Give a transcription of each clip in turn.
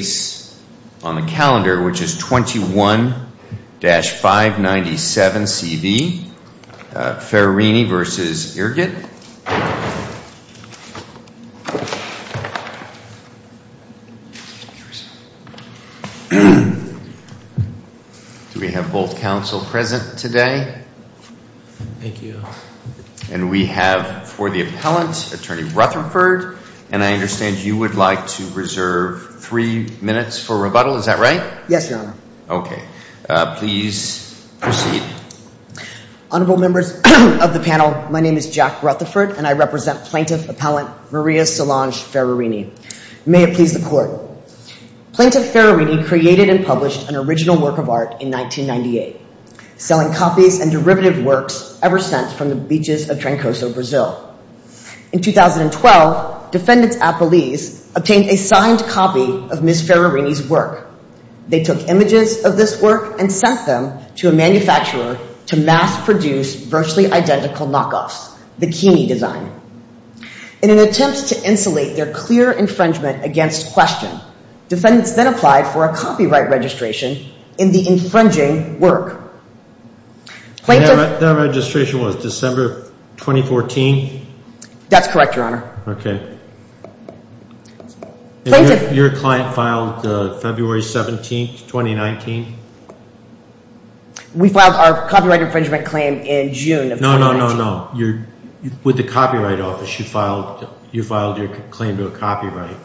Do we have both counsel present today? Thank you. And we have for the appellant, Attorney Rutherford, and I understand you would like to reserve three days of your time for the appellant, Attorney Rutherford. Three minutes for rebuttal, is that right? Yes, Your Honor. Okay. Please proceed. Honorable members of the panel, my name is Jack Rutherford and I represent Plaintiff Appellant Maria Solange Ferrarini. May it please the Court. Plaintiff Ferrarini created and published an original work of art in 1998, selling copies and derivative works ever since from the beaches of Trancoso, Brazil. In 2012, defendants at Belize obtained a signed copy of Ms. Ferrarini's work. They took images of this work and sent them to a manufacturer to mass-produce virtually identical knockoffs, bikini design. In an attempt to insulate their clear infringement against question, defendants then applied for a copyright registration in the infringing work. That registration was December 2014? That's correct, Your Honor. Okay. Your client filed February 17, 2019? We filed our copyright infringement claim in June of 2019. No, no, no, no. With the Copyright Office, you filed your claim to a copyright.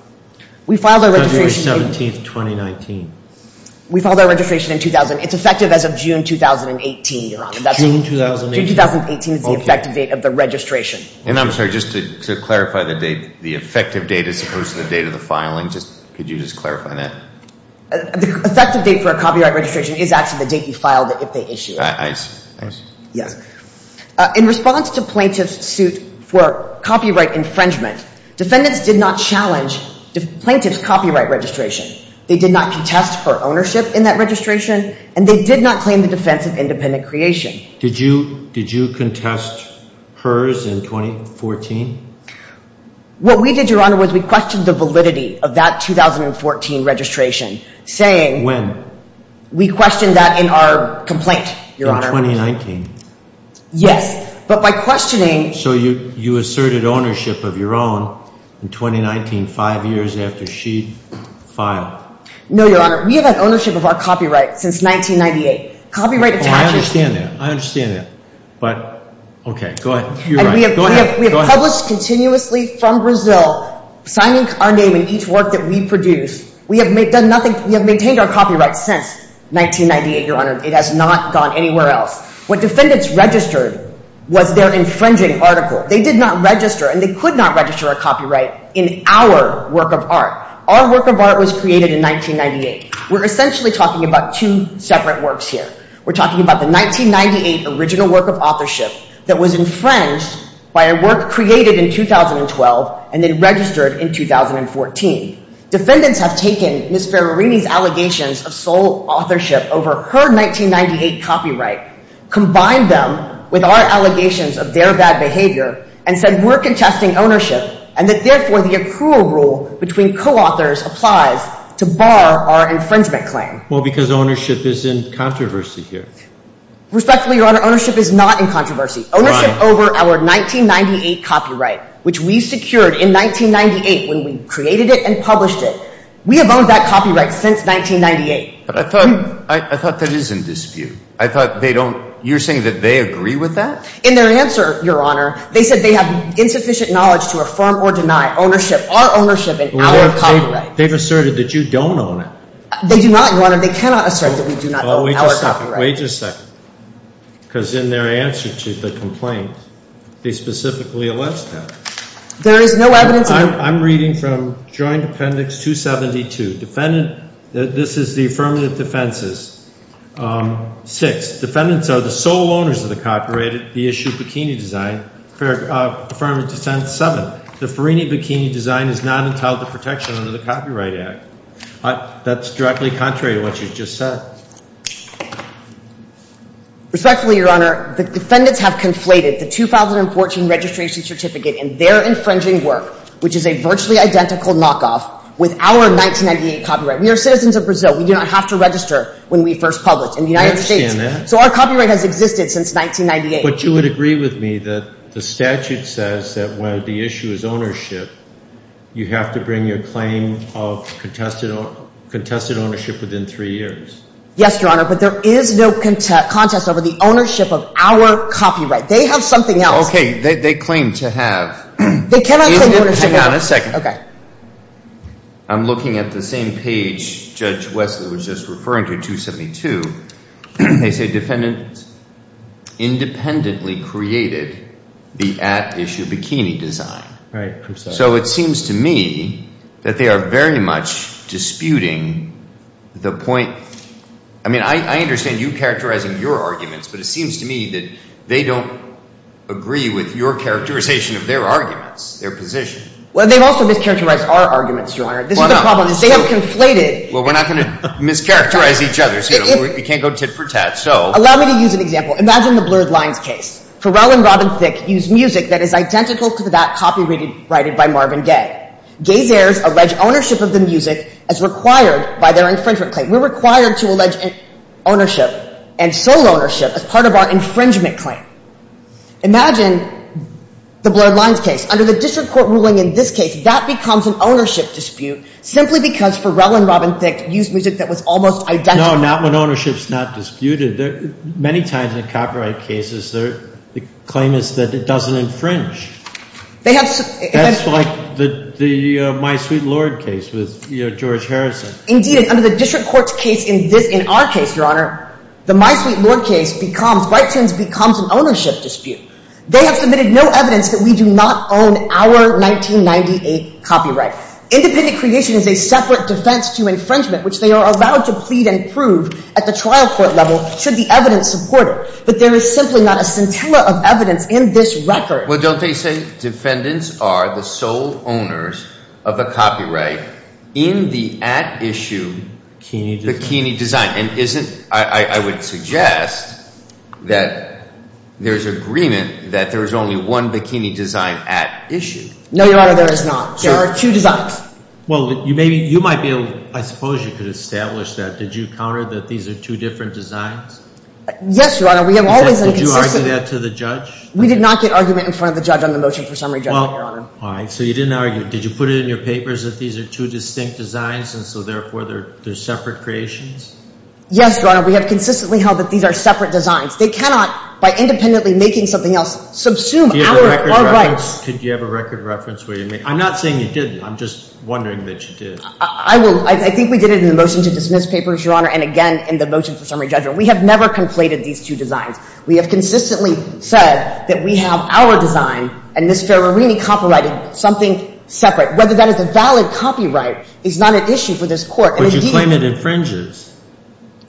February 17, 2019. We filed our registration in 2000. It's effective as of June 2018, Your Honor. June 2018. June 2018 is the effective date of the registration. And I'm sorry, just to clarify the date, the effective date as opposed to the date of the filing, could you just clarify that? The effective date for a copyright registration is actually the date you filed it if they issued it. I see. In response to plaintiff's suit for copyright infringement, defendants did not challenge plaintiff's copyright registration. They did not contest her ownership in that registration, and they did not claim the defense of independent creation. Did you contest hers in 2014? What we did, Your Honor, was we questioned the validity of that 2014 registration, saying… We questioned that in our complaint, Your Honor. In 2019? Yes, but by questioning… So you asserted ownership of your own in 2019, five years after she filed? No, Your Honor. We have had ownership of our copyright since 1998. Copyright attaches… Oh, I understand that. I understand that. But, okay, go ahead. You're right. Go ahead. We have published continuously from Brazil, signing our name in each work that we produce. We have maintained our copyright since 1998, Your Honor. It has not gone anywhere else. What defendants registered was their infringing article. They did not register, and they could not register a copyright in our work of art. Our work of art was created in 1998. We're essentially talking about two separate works here. We're talking about the 1998 original work of authorship that was infringed by a work created in 2012 and then registered in 2014. Defendants have taken Ms. Ferrarini's allegations of sole authorship over her 1998 copyright, combined them with our allegations of their bad behavior, and said we're contesting ownership and that, therefore, the accrual rule between co-authors applies to bar our infringement claim. Well, because ownership is in controversy here. Respectfully, Your Honor, ownership is not in controversy. Ownership over our 1998 copyright, which we secured in 1998 when we created it and published it, we have owned that copyright since 1998. But I thought that is in dispute. I thought they don't – you're saying that they agree with that? In their answer, Your Honor, they said they have insufficient knowledge to affirm or deny ownership, our ownership, in our copyright. They've asserted that you don't own it. They do not, Your Honor. They cannot assert that we do not own our copyright. Well, wait just a second. Wait just a second. Because in their answer to the complaint, they specifically allege that. There is no evidence of it. I'm reading from Joint Appendix 272. Defendant – this is the affirmative defenses. Six, defendants are the sole owners of the copyright at the issue Bikini Design. Affirmative defense seven, the Ferrarini Bikini Design is not entitled to protection under the Copyright Act. That's directly contrary to what you just said. Respectfully, Your Honor, the defendants have conflated the 2014 registration certificate and their infringing work, which is a virtually identical knockoff, with our 1998 copyright. We are citizens of Brazil. We do not have to register when we first publish in the United States. I understand that. So our copyright has existed since 1998. But you would agree with me that the statute says that when the issue is ownership, you have to bring your claim of contested ownership within three years. Yes, Your Honor, but there is no contest over the ownership of our copyright. They have something else. Okay. They claim to have. They cannot claim ownership. Hang on a second. Okay. I'm looking at the same page Judge Wesley was just referring to, 272. They say defendants independently created the at issue Bikini Design. So it seems to me that they are very much disputing the point. I mean, I understand you characterizing your arguments, but it seems to me that they don't agree with your characterization of their arguments, their position. Well, they've also mischaracterized our arguments, Your Honor. This is the problem. They have conflated. Well, we're not going to mischaracterize each other. We can't go tit for tat. Allow me to use an example. Imagine the blurred lines case. Pharrell and Robin Thicke used music that is identical to that copyrighted by Marvin Gaye. Gaye's heirs allege ownership of the music as required by their infringement claim. We're required to allege ownership and sole ownership as part of our infringement claim. Imagine the blurred lines case. Under the district court ruling in this case, that becomes an ownership dispute simply because Pharrell and Robin Thicke used music that was almost identical. No, not when ownership is not disputed. Many times in copyright cases, the claim is that it doesn't infringe. That's like the My Sweet Lord case with George Harrison. Indeed, and under the district court's case in our case, Your Honor, the My Sweet Lord case becomes, by turns, becomes an ownership dispute. They have submitted no evidence that we do not own our 1998 copyright. Independent creation is a separate defense to infringement, which they are allowed to plead and prove at the trial court level should the evidence support it. But there is simply not a scintilla of evidence in this record. Well, don't they say defendants are the sole owners of a copyright in the at issue bikini design? And isn't – I would suggest that there's agreement that there's only one bikini design at issue. No, Your Honor, there is not. There are two designs. Well, you may be – you might be able – I suppose you could establish that. Did you counter that these are two different designs? Yes, Your Honor, we have always – Did you argue that to the judge? We did not get argument in front of the judge on the motion for summary judgment, Your Honor. All right, so you didn't argue. Did you put it in your papers that these are two distinct designs and so, therefore, they're separate creations? Yes, Your Honor, we have consistently held that these are separate designs. They cannot, by independently making something else, subsume our rights. Do you have a record reference? Could you have a record reference where you make – I'm not saying you didn't. I'm just wondering that you did. I will – I think we did it in the motion to dismiss papers, Your Honor, and again in the motion for summary judgment. We have never conflated these two designs. We have consistently said that we have our design and Ms. Ferrarini copyrighted something separate. Whether that is a valid copyright is not an issue for this court. But you claim it infringes.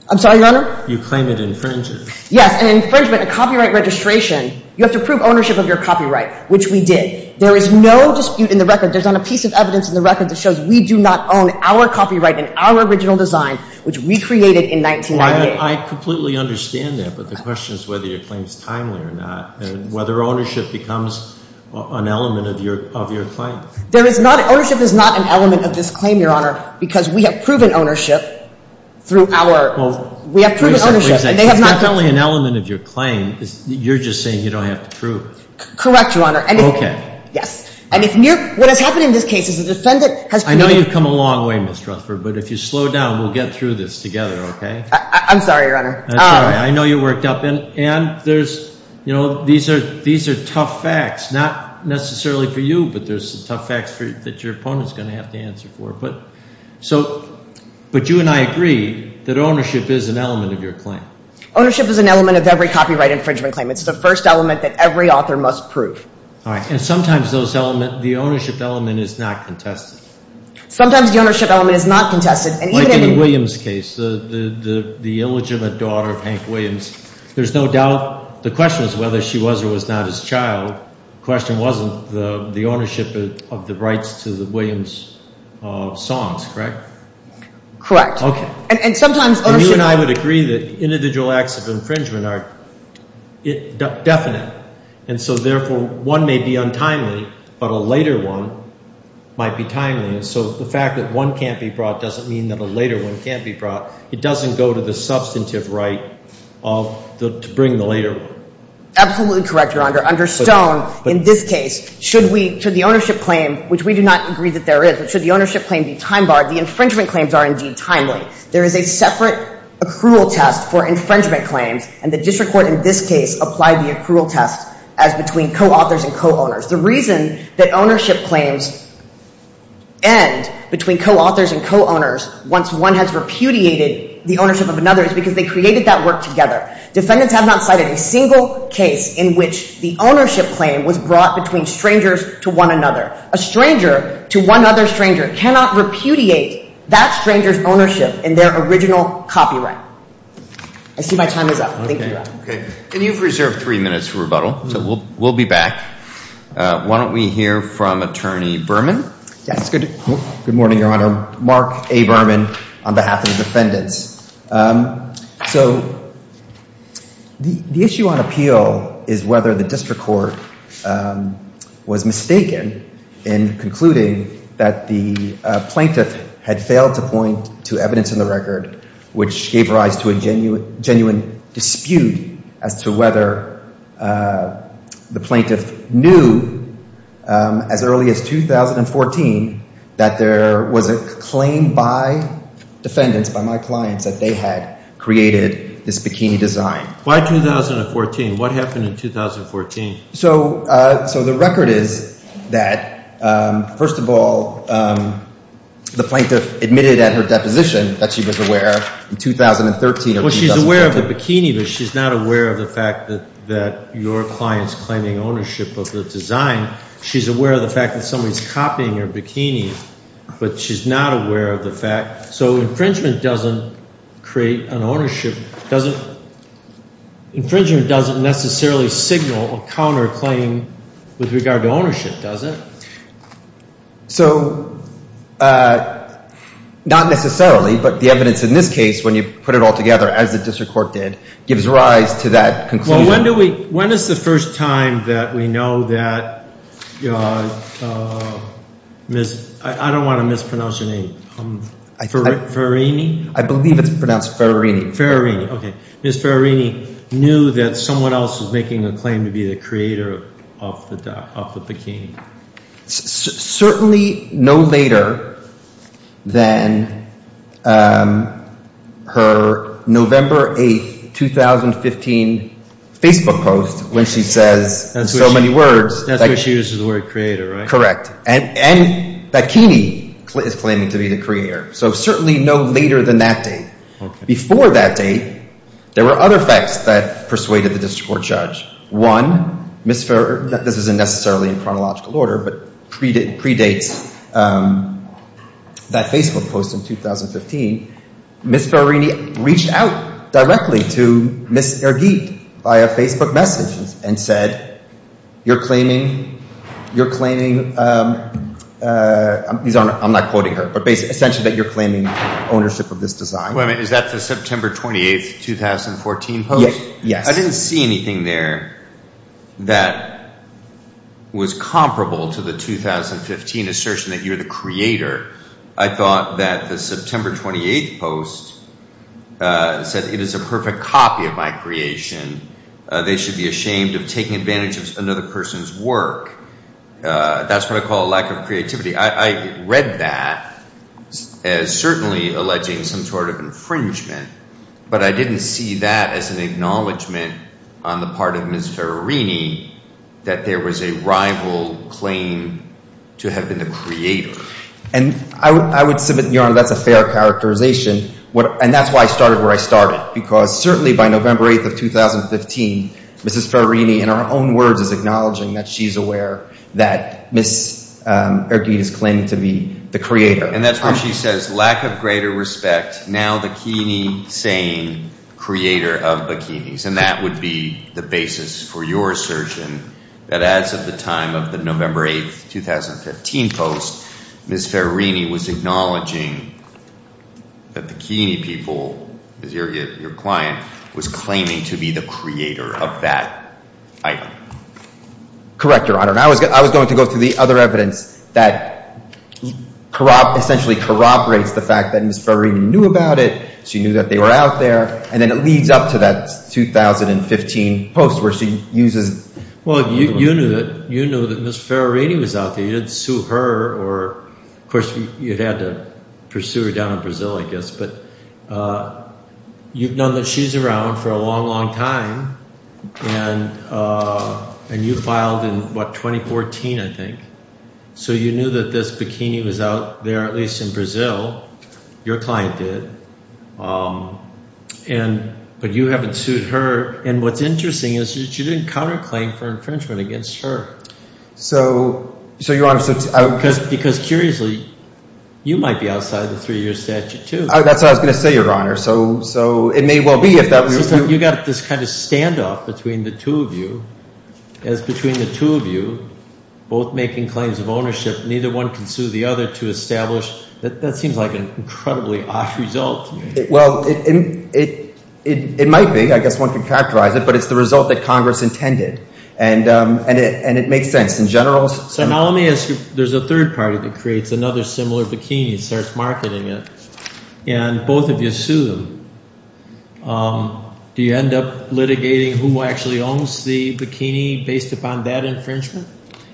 I'm sorry, Your Honor? You claim it infringes. Yes, an infringement, a copyright registration, you have to prove ownership of your copyright, which we did. There is no dispute in the record. There's not a piece of evidence in the record that shows we do not own our copyright and our original design, which we created in 1998. I completely understand that, but the question is whether your claim is timely or not and whether ownership becomes an element of your claim. There is not – ownership is not an element of this claim, Your Honor, because we have proven ownership through our – we have proven ownership. It's definitely an element of your claim. You're just saying you don't have to prove. Correct, Your Honor. Okay. Yes. And if – what has happened in this case is the defendant has – I know you've come a long way, Ms. Rutherford, but if you slow down, we'll get through this together, okay? I'm sorry, Your Honor. I'm sorry. I know you worked up – and there's – these are tough facts, not necessarily for you, but there's some tough facts that your opponent is going to have to answer for. But you and I agree that ownership is an element of your claim. Ownership is an element of every copyright infringement claim. It's the first element that every author must prove. All right. And sometimes those elements – the ownership element is not contested. Sometimes the ownership element is not contested. Like in the Williams case, the illegitimate daughter of Hank Williams. There's no doubt – the question is whether she was or was not his child. The question wasn't the ownership of the rights to the Williams songs, correct? Correct. Okay. And sometimes ownership – And so, therefore, one may be untimely, but a later one might be timely. And so the fact that one can't be brought doesn't mean that a later one can't be brought. It doesn't go to the substantive right to bring the later one. Absolutely correct, Your Honor. Under Stone, in this case, should we – should the ownership claim, which we do not agree that there is, but should the ownership claim be time-barred, the infringement claims are indeed timely. There is a separate accrual test for infringement claims, and the district court in this case applied the accrual test as between co-authors and co-owners. The reason that ownership claims end between co-authors and co-owners once one has repudiated the ownership of another is because they created that work together. Defendants have not cited a single case in which the ownership claim was brought between strangers to one another. A stranger to one other stranger cannot repudiate that stranger's ownership in their original copyright. I see my time is up. Thank you, Your Honor. Okay. And you've reserved three minutes for rebuttal, so we'll be back. Why don't we hear from Attorney Berman? Yes. Good morning, Your Honor. Mark A. Berman on behalf of the defendants. So the issue on appeal is whether the district court was mistaken in concluding that the plaintiff had failed to point to evidence in the record which gave rise to a genuine dispute as to whether the plaintiff knew as early as 2014 that there was a claim by defendants, by my clients, that they had created this bikini design. Why 2014? What happened in 2014? So the record is that, first of all, the plaintiff admitted at her deposition that she was aware in 2013 or 2014. Well, she's aware of the bikini, but she's not aware of the fact that your client's claiming ownership of the design. She's aware of the fact that somebody's copying her bikini, but she's not aware of the fact. So infringement doesn't create an ownership, doesn't – infringement doesn't necessarily signal a counterclaim with regard to ownership, does it? So not necessarily, but the evidence in this case, when you put it all together as the district court did, gives rise to that conclusion. So when do we – when is the first time that we know that Ms. – I don't want to mispronounce your name – Ferrerini? I believe it's pronounced Ferrerini. Ferrerini. Okay. Ms. Ferrerini knew that someone else was making a claim to be the creator of the bikini. Certainly no later than her November 8, 2015 Facebook post when she says in so many words – That's where she uses the word creator, right? Correct. And bikini is claiming to be the creator. So certainly no later than that date. Okay. Before that date, there were other facts that persuaded the district court judge. One, Ms. Ferrerini – this isn't necessarily in chronological order, but predates that Facebook post in 2015 – Ms. Ferrerini reached out directly to Ms. Ergeet via Facebook message and said, You're claiming – I'm not quoting her, but essentially that you're claiming ownership of this design. Wait a minute. Is that the September 28, 2014 post? Yes. I didn't see anything there that was comparable to the 2015 assertion that you're the creator. I thought that the September 28 post said it is a perfect copy of my creation. They should be ashamed of taking advantage of another person's work. That's what I call a lack of creativity. I read that as certainly alleging some sort of infringement, but I didn't see that as an acknowledgment on the part of Ms. Ferrerini that there was a rival claim to have been the creator. And I would submit, Your Honor, that's a fair characterization. And that's why I started where I started, because certainly by November 8, 2015, Ms. Ferrerini, in her own words, is acknowledging that she's aware that Ms. Ergeet is claiming to be the creator. And that's when she says, Lack of greater respect, now Bikini saying creator of bikinis. And that would be the basis for your assertion that as of the time of the November 8, 2015 post, Ms. Ferrerini was acknowledging that the bikini people, Ms. Ergeet, your client, was claiming to be the creator of that item. Correct, Your Honor. And I was going to go through the other evidence that essentially corroborates the fact that Ms. Ferrerini knew about it. She knew that they were out there. And then it leads up to that 2015 post where she uses— Well, you knew that Ms. Ferrerini was out there. You didn't sue her or, of course, you had to pursue her down in Brazil, I guess. But you've known that she's around for a long, long time. And you filed in, what, 2014, I think. So you knew that this bikini was out there, at least in Brazil. Your client did. But you haven't sued her. And what's interesting is that you didn't counterclaim for infringement against her. So, Your Honor— Because curiously, you might be outside the three-year statute too. That's what I was going to say, Your Honor. So it may well be if that were true. So you've got this kind of standoff between the two of you as between the two of you both making claims of ownership. Neither one can sue the other to establish—that seems like an incredibly odd result to me. Well, it might be. I guess one can characterize it. But it's the result that Congress intended. And it makes sense in general. So now let me ask you, there's a third party that creates another similar bikini and starts marketing it. And both of you sue them. Do you end up litigating who actually owns the bikini based upon that infringement?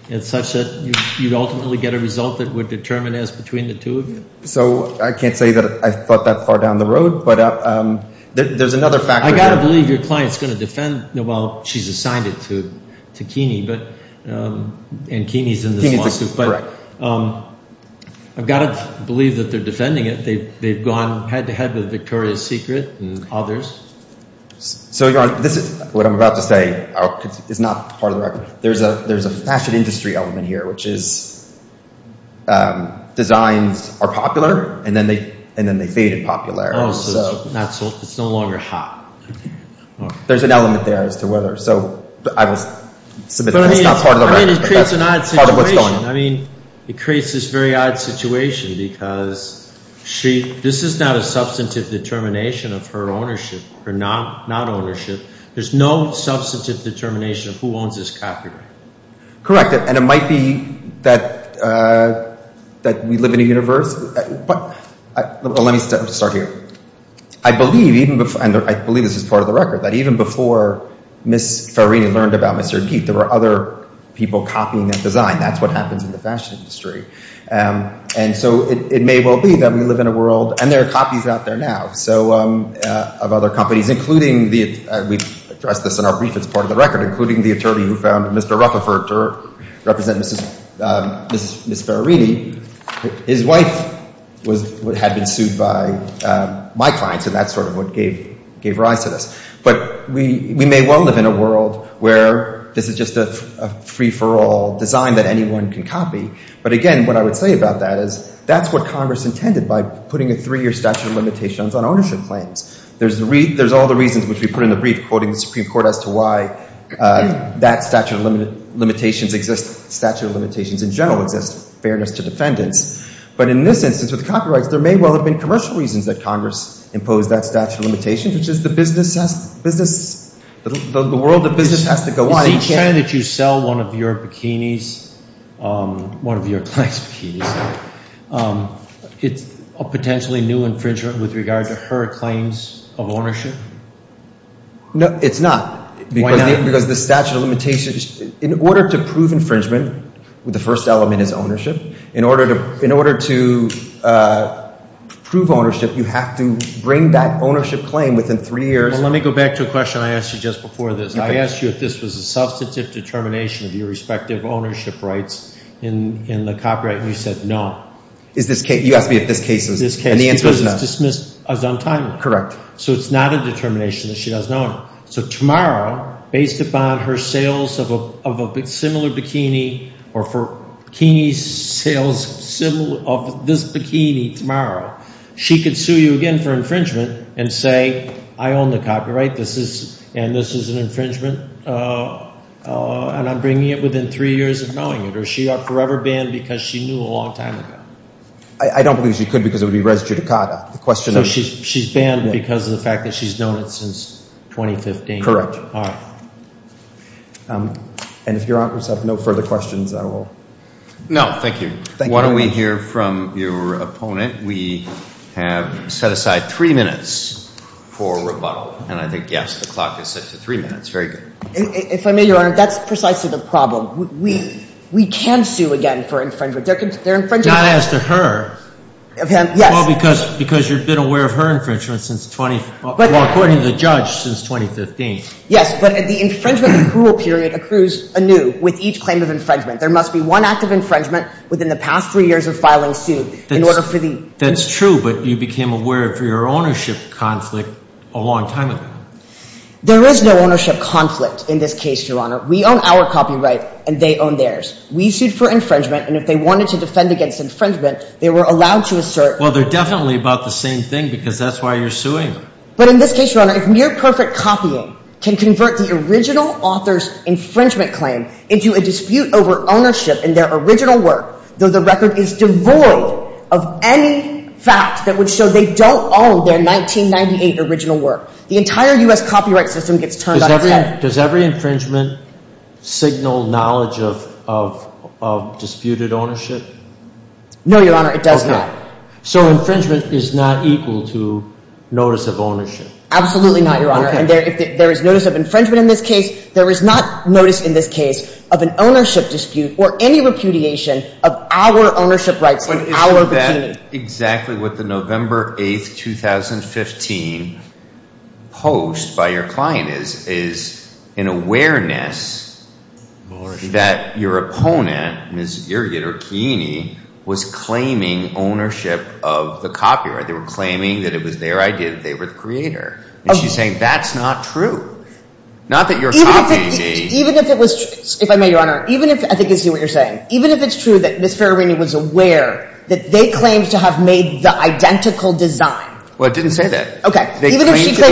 And such that you'd ultimately get a result that would determine as between the two of you? So I can't say that I thought that far down the road. But there's another factor— I've got to believe your client's going to defend—well, she's assigned it to Keeney, and Keeney's in this lawsuit. But I've got to believe that they're defending it. They've gone head-to-head with Victoria's Secret and others. So, Your Honor, this is what I'm about to say. It's not part of the record. There's a fashion industry element here, which is designs are popular, and then they fade in popularity. Oh, so it's no longer hot. There's an element there as to whether. So I will submit that it's not part of the record, but that's part of what's going on. I mean, it creates this very odd situation because this is not a substantive determination of her ownership or non-ownership. There's no substantive determination of who owns this copyright. Correct, and it might be that we live in a universe. But let me start here. I believe—and I believe this is part of the record—that even before Ms. Farrini learned about Mr. Geith, there were other people copying that design. That's what happens in the fashion industry. And so it may well be that we live in a world—and there are copies out there now of other companies, including—we've addressed this in our brief that's part of the record—including the attorney who found Mr. Rutherford to represent Ms. Farrini. His wife had been sued by my clients, and that's sort of what gave rise to this. But we may well live in a world where this is just a free-for-all design that anyone can copy. But again, what I would say about that is that's what Congress intended by putting a three-year statute of limitations on ownership claims. There's all the reasons which we put in the brief, quoting the Supreme Court as to why that statute of limitations exists. Statute of limitations in general exists, fairness to defendants. But in this instance, with copyrights, there may well have been commercial reasons that Congress imposed that statute of limitations, which is the business—the world of business has to go on. So each time that you sell one of your bikinis, one of your clients' bikinis, it's a potentially new infringement with regard to her claims of ownership? No, it's not. Why not? Because the statute of limitations—in order to prove infringement, the first element is ownership. In order to prove ownership, you have to bring back ownership claim within three years. Well, let me go back to a question I asked you just before this. I asked you if this was a substantive determination of your respective ownership rights in the copyright, and you said no. Is this case—you asked me if this case is— This case, because it's dismissed as untimely. Correct. So it's not a determination that she doesn't own it. So tomorrow, based upon her sales of a similar bikini or for bikini sales of this bikini tomorrow, she could sue you again for infringement and say, I own the copyright, and this is an infringement, and I'm bringing it within three years of knowing it. Or is she forever banned because she knew a long time ago? I don't believe she could because it would be res judicata. So she's banned because of the fact that she's known it since 2015? Correct. All right. And if your honorees have no further questions, I will— No, thank you. Thank you. While we hear from your opponent, we have set aside three minutes for rebuttal. And I think, yes, the clock is set to three minutes. Very good. If I may, Your Honor, that's precisely the problem. We can sue again for infringement. They're infringing— Not as to her. Yes. Well, because you've been aware of her infringement since—well, according to the judge, since 2015. Yes, but the infringement accrual period accrues anew with each claim of infringement. There must be one act of infringement within the past three years of filing suit in order for the— That's true, but you became aware of your ownership conflict a long time ago. There is no ownership conflict in this case, Your Honor. We own our copyright, and they own theirs. We sued for infringement, and if they wanted to defend against infringement, they were allowed to assert— Well, they're definitely about the same thing because that's why you're suing. But in this case, Your Honor, if mere perfect copying can convert the original author's infringement claim into a dispute over ownership in their original work, though the record is devoid of any fact that would show they don't own their 1998 original work, the entire U.S. copyright system gets turned on again. Does every infringement signal knowledge of disputed ownership? No, Your Honor, it does not. So infringement is not equal to notice of ownership? Absolutely not, Your Honor. If there is notice of infringement in this case, there is not notice in this case of an ownership dispute or any repudiation of our ownership rights and our bikini. Exactly what the November 8, 2015, post by your client is an awareness that your opponent, Ms. Irgit or Keeney, was claiming ownership of the copyright. They were claiming that it was their idea, that they were the creator. And she's saying that's not true. Not that you're copying me. If I may, Your Honor, even if – I think I see what you're saying. Even if it's true that Ms. Ferrarini was aware that they claimed to have made the identical design. Well, it didn't say that. Okay. They claimed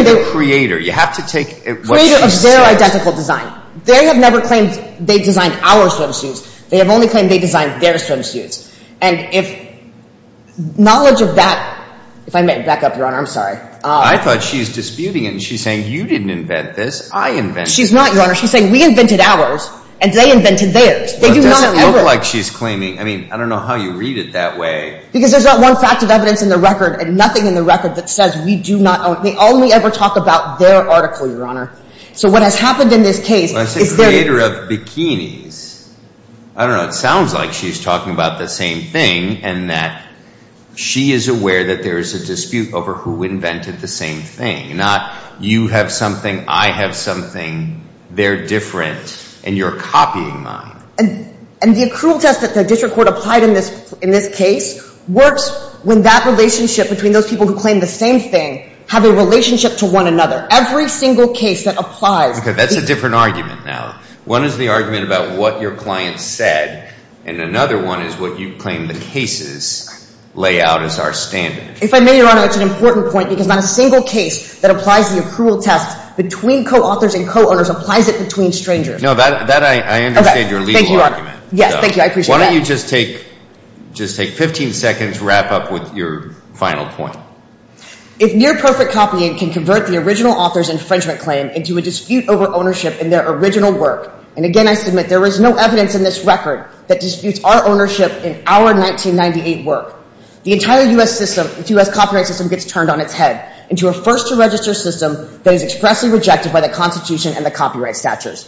to be the creator. You have to take what she says. Creator of their identical design. They have never claimed they designed our swimsuits. They have only claimed they designed their swimsuits. And if knowledge of that – if I may back up, Your Honor, I'm sorry. I invented it. She's not, Your Honor. She's saying we invented ours and they invented theirs. They do not ever – It doesn't look like she's claiming – I mean, I don't know how you read it that way. Because there's not one fact of evidence in the record and nothing in the record that says we do not – they only ever talk about their article, Your Honor. So what has happened in this case is their – I say creator of bikinis. I don't know. It sounds like she's talking about the same thing and that she is aware that there is a dispute over who invented the same thing. Not you have something, I have something, they're different, and you're copying mine. And the accrual test that the district court applied in this case works when that relationship between those people who claim the same thing have a relationship to one another. Every single case that applies – Okay. That's a different argument now. One is the argument about what your client said, and another one is what you claim the cases lay out as our standard. If I may, Your Honor, it's an important point because not a single case that applies the accrual test between co-authors and co-owners applies it between strangers. No, that I understand your legal argument. Thank you, Your Honor. Yes, thank you. I appreciate that. Why don't you just take 15 seconds to wrap up with your final point? If near-perfect copying can convert the original author's infringement claim into a dispute over ownership in their original work – and again, I submit there is no evidence in this record that disputes our ownership in our 1998 work. The entire U.S. copyright system gets turned on its head into a first-to-register system that is expressly rejected by the Constitution and the copyright statutes.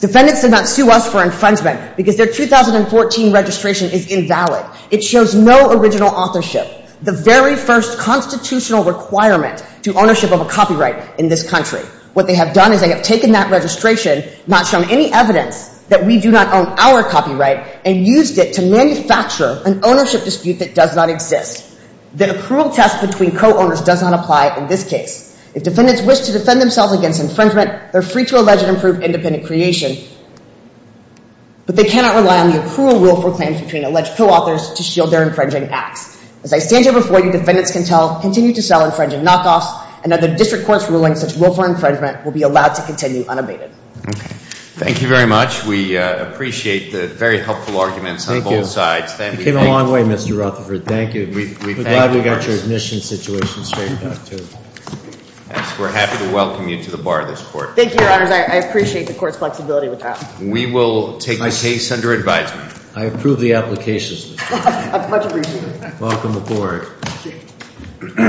Defendants did not sue us for infringement because their 2014 registration is invalid. It shows no original authorship, the very first constitutional requirement to ownership of a copyright in this country. What they have done is they have taken that registration, not shown any evidence that we do not own our copyright, and used it to manufacture an ownership dispute that does not exist. The accrual test between co-owners does not apply in this case. If defendants wish to defend themselves against infringement, they're free to allege an improved independent creation, but they cannot rely on the accrual rule for claims between alleged co-authors to shield their infringing acts. As I stand here before you, defendants can continue to sell infringing knockoffs, and under district court's ruling, such willful infringement will be allowed to continue unabated. Thank you very much. We appreciate the very helpful arguments on both sides. Thank you. You came a long way, Mr. Rutherford. Thank you. We're glad we got your admission situation straightened out, too. We're happy to welcome you to the Bar of this Court. Thank you, Your Honors. I appreciate the Court's flexibility with that. We will take the case under advisement. I approve the application. Welcome aboard.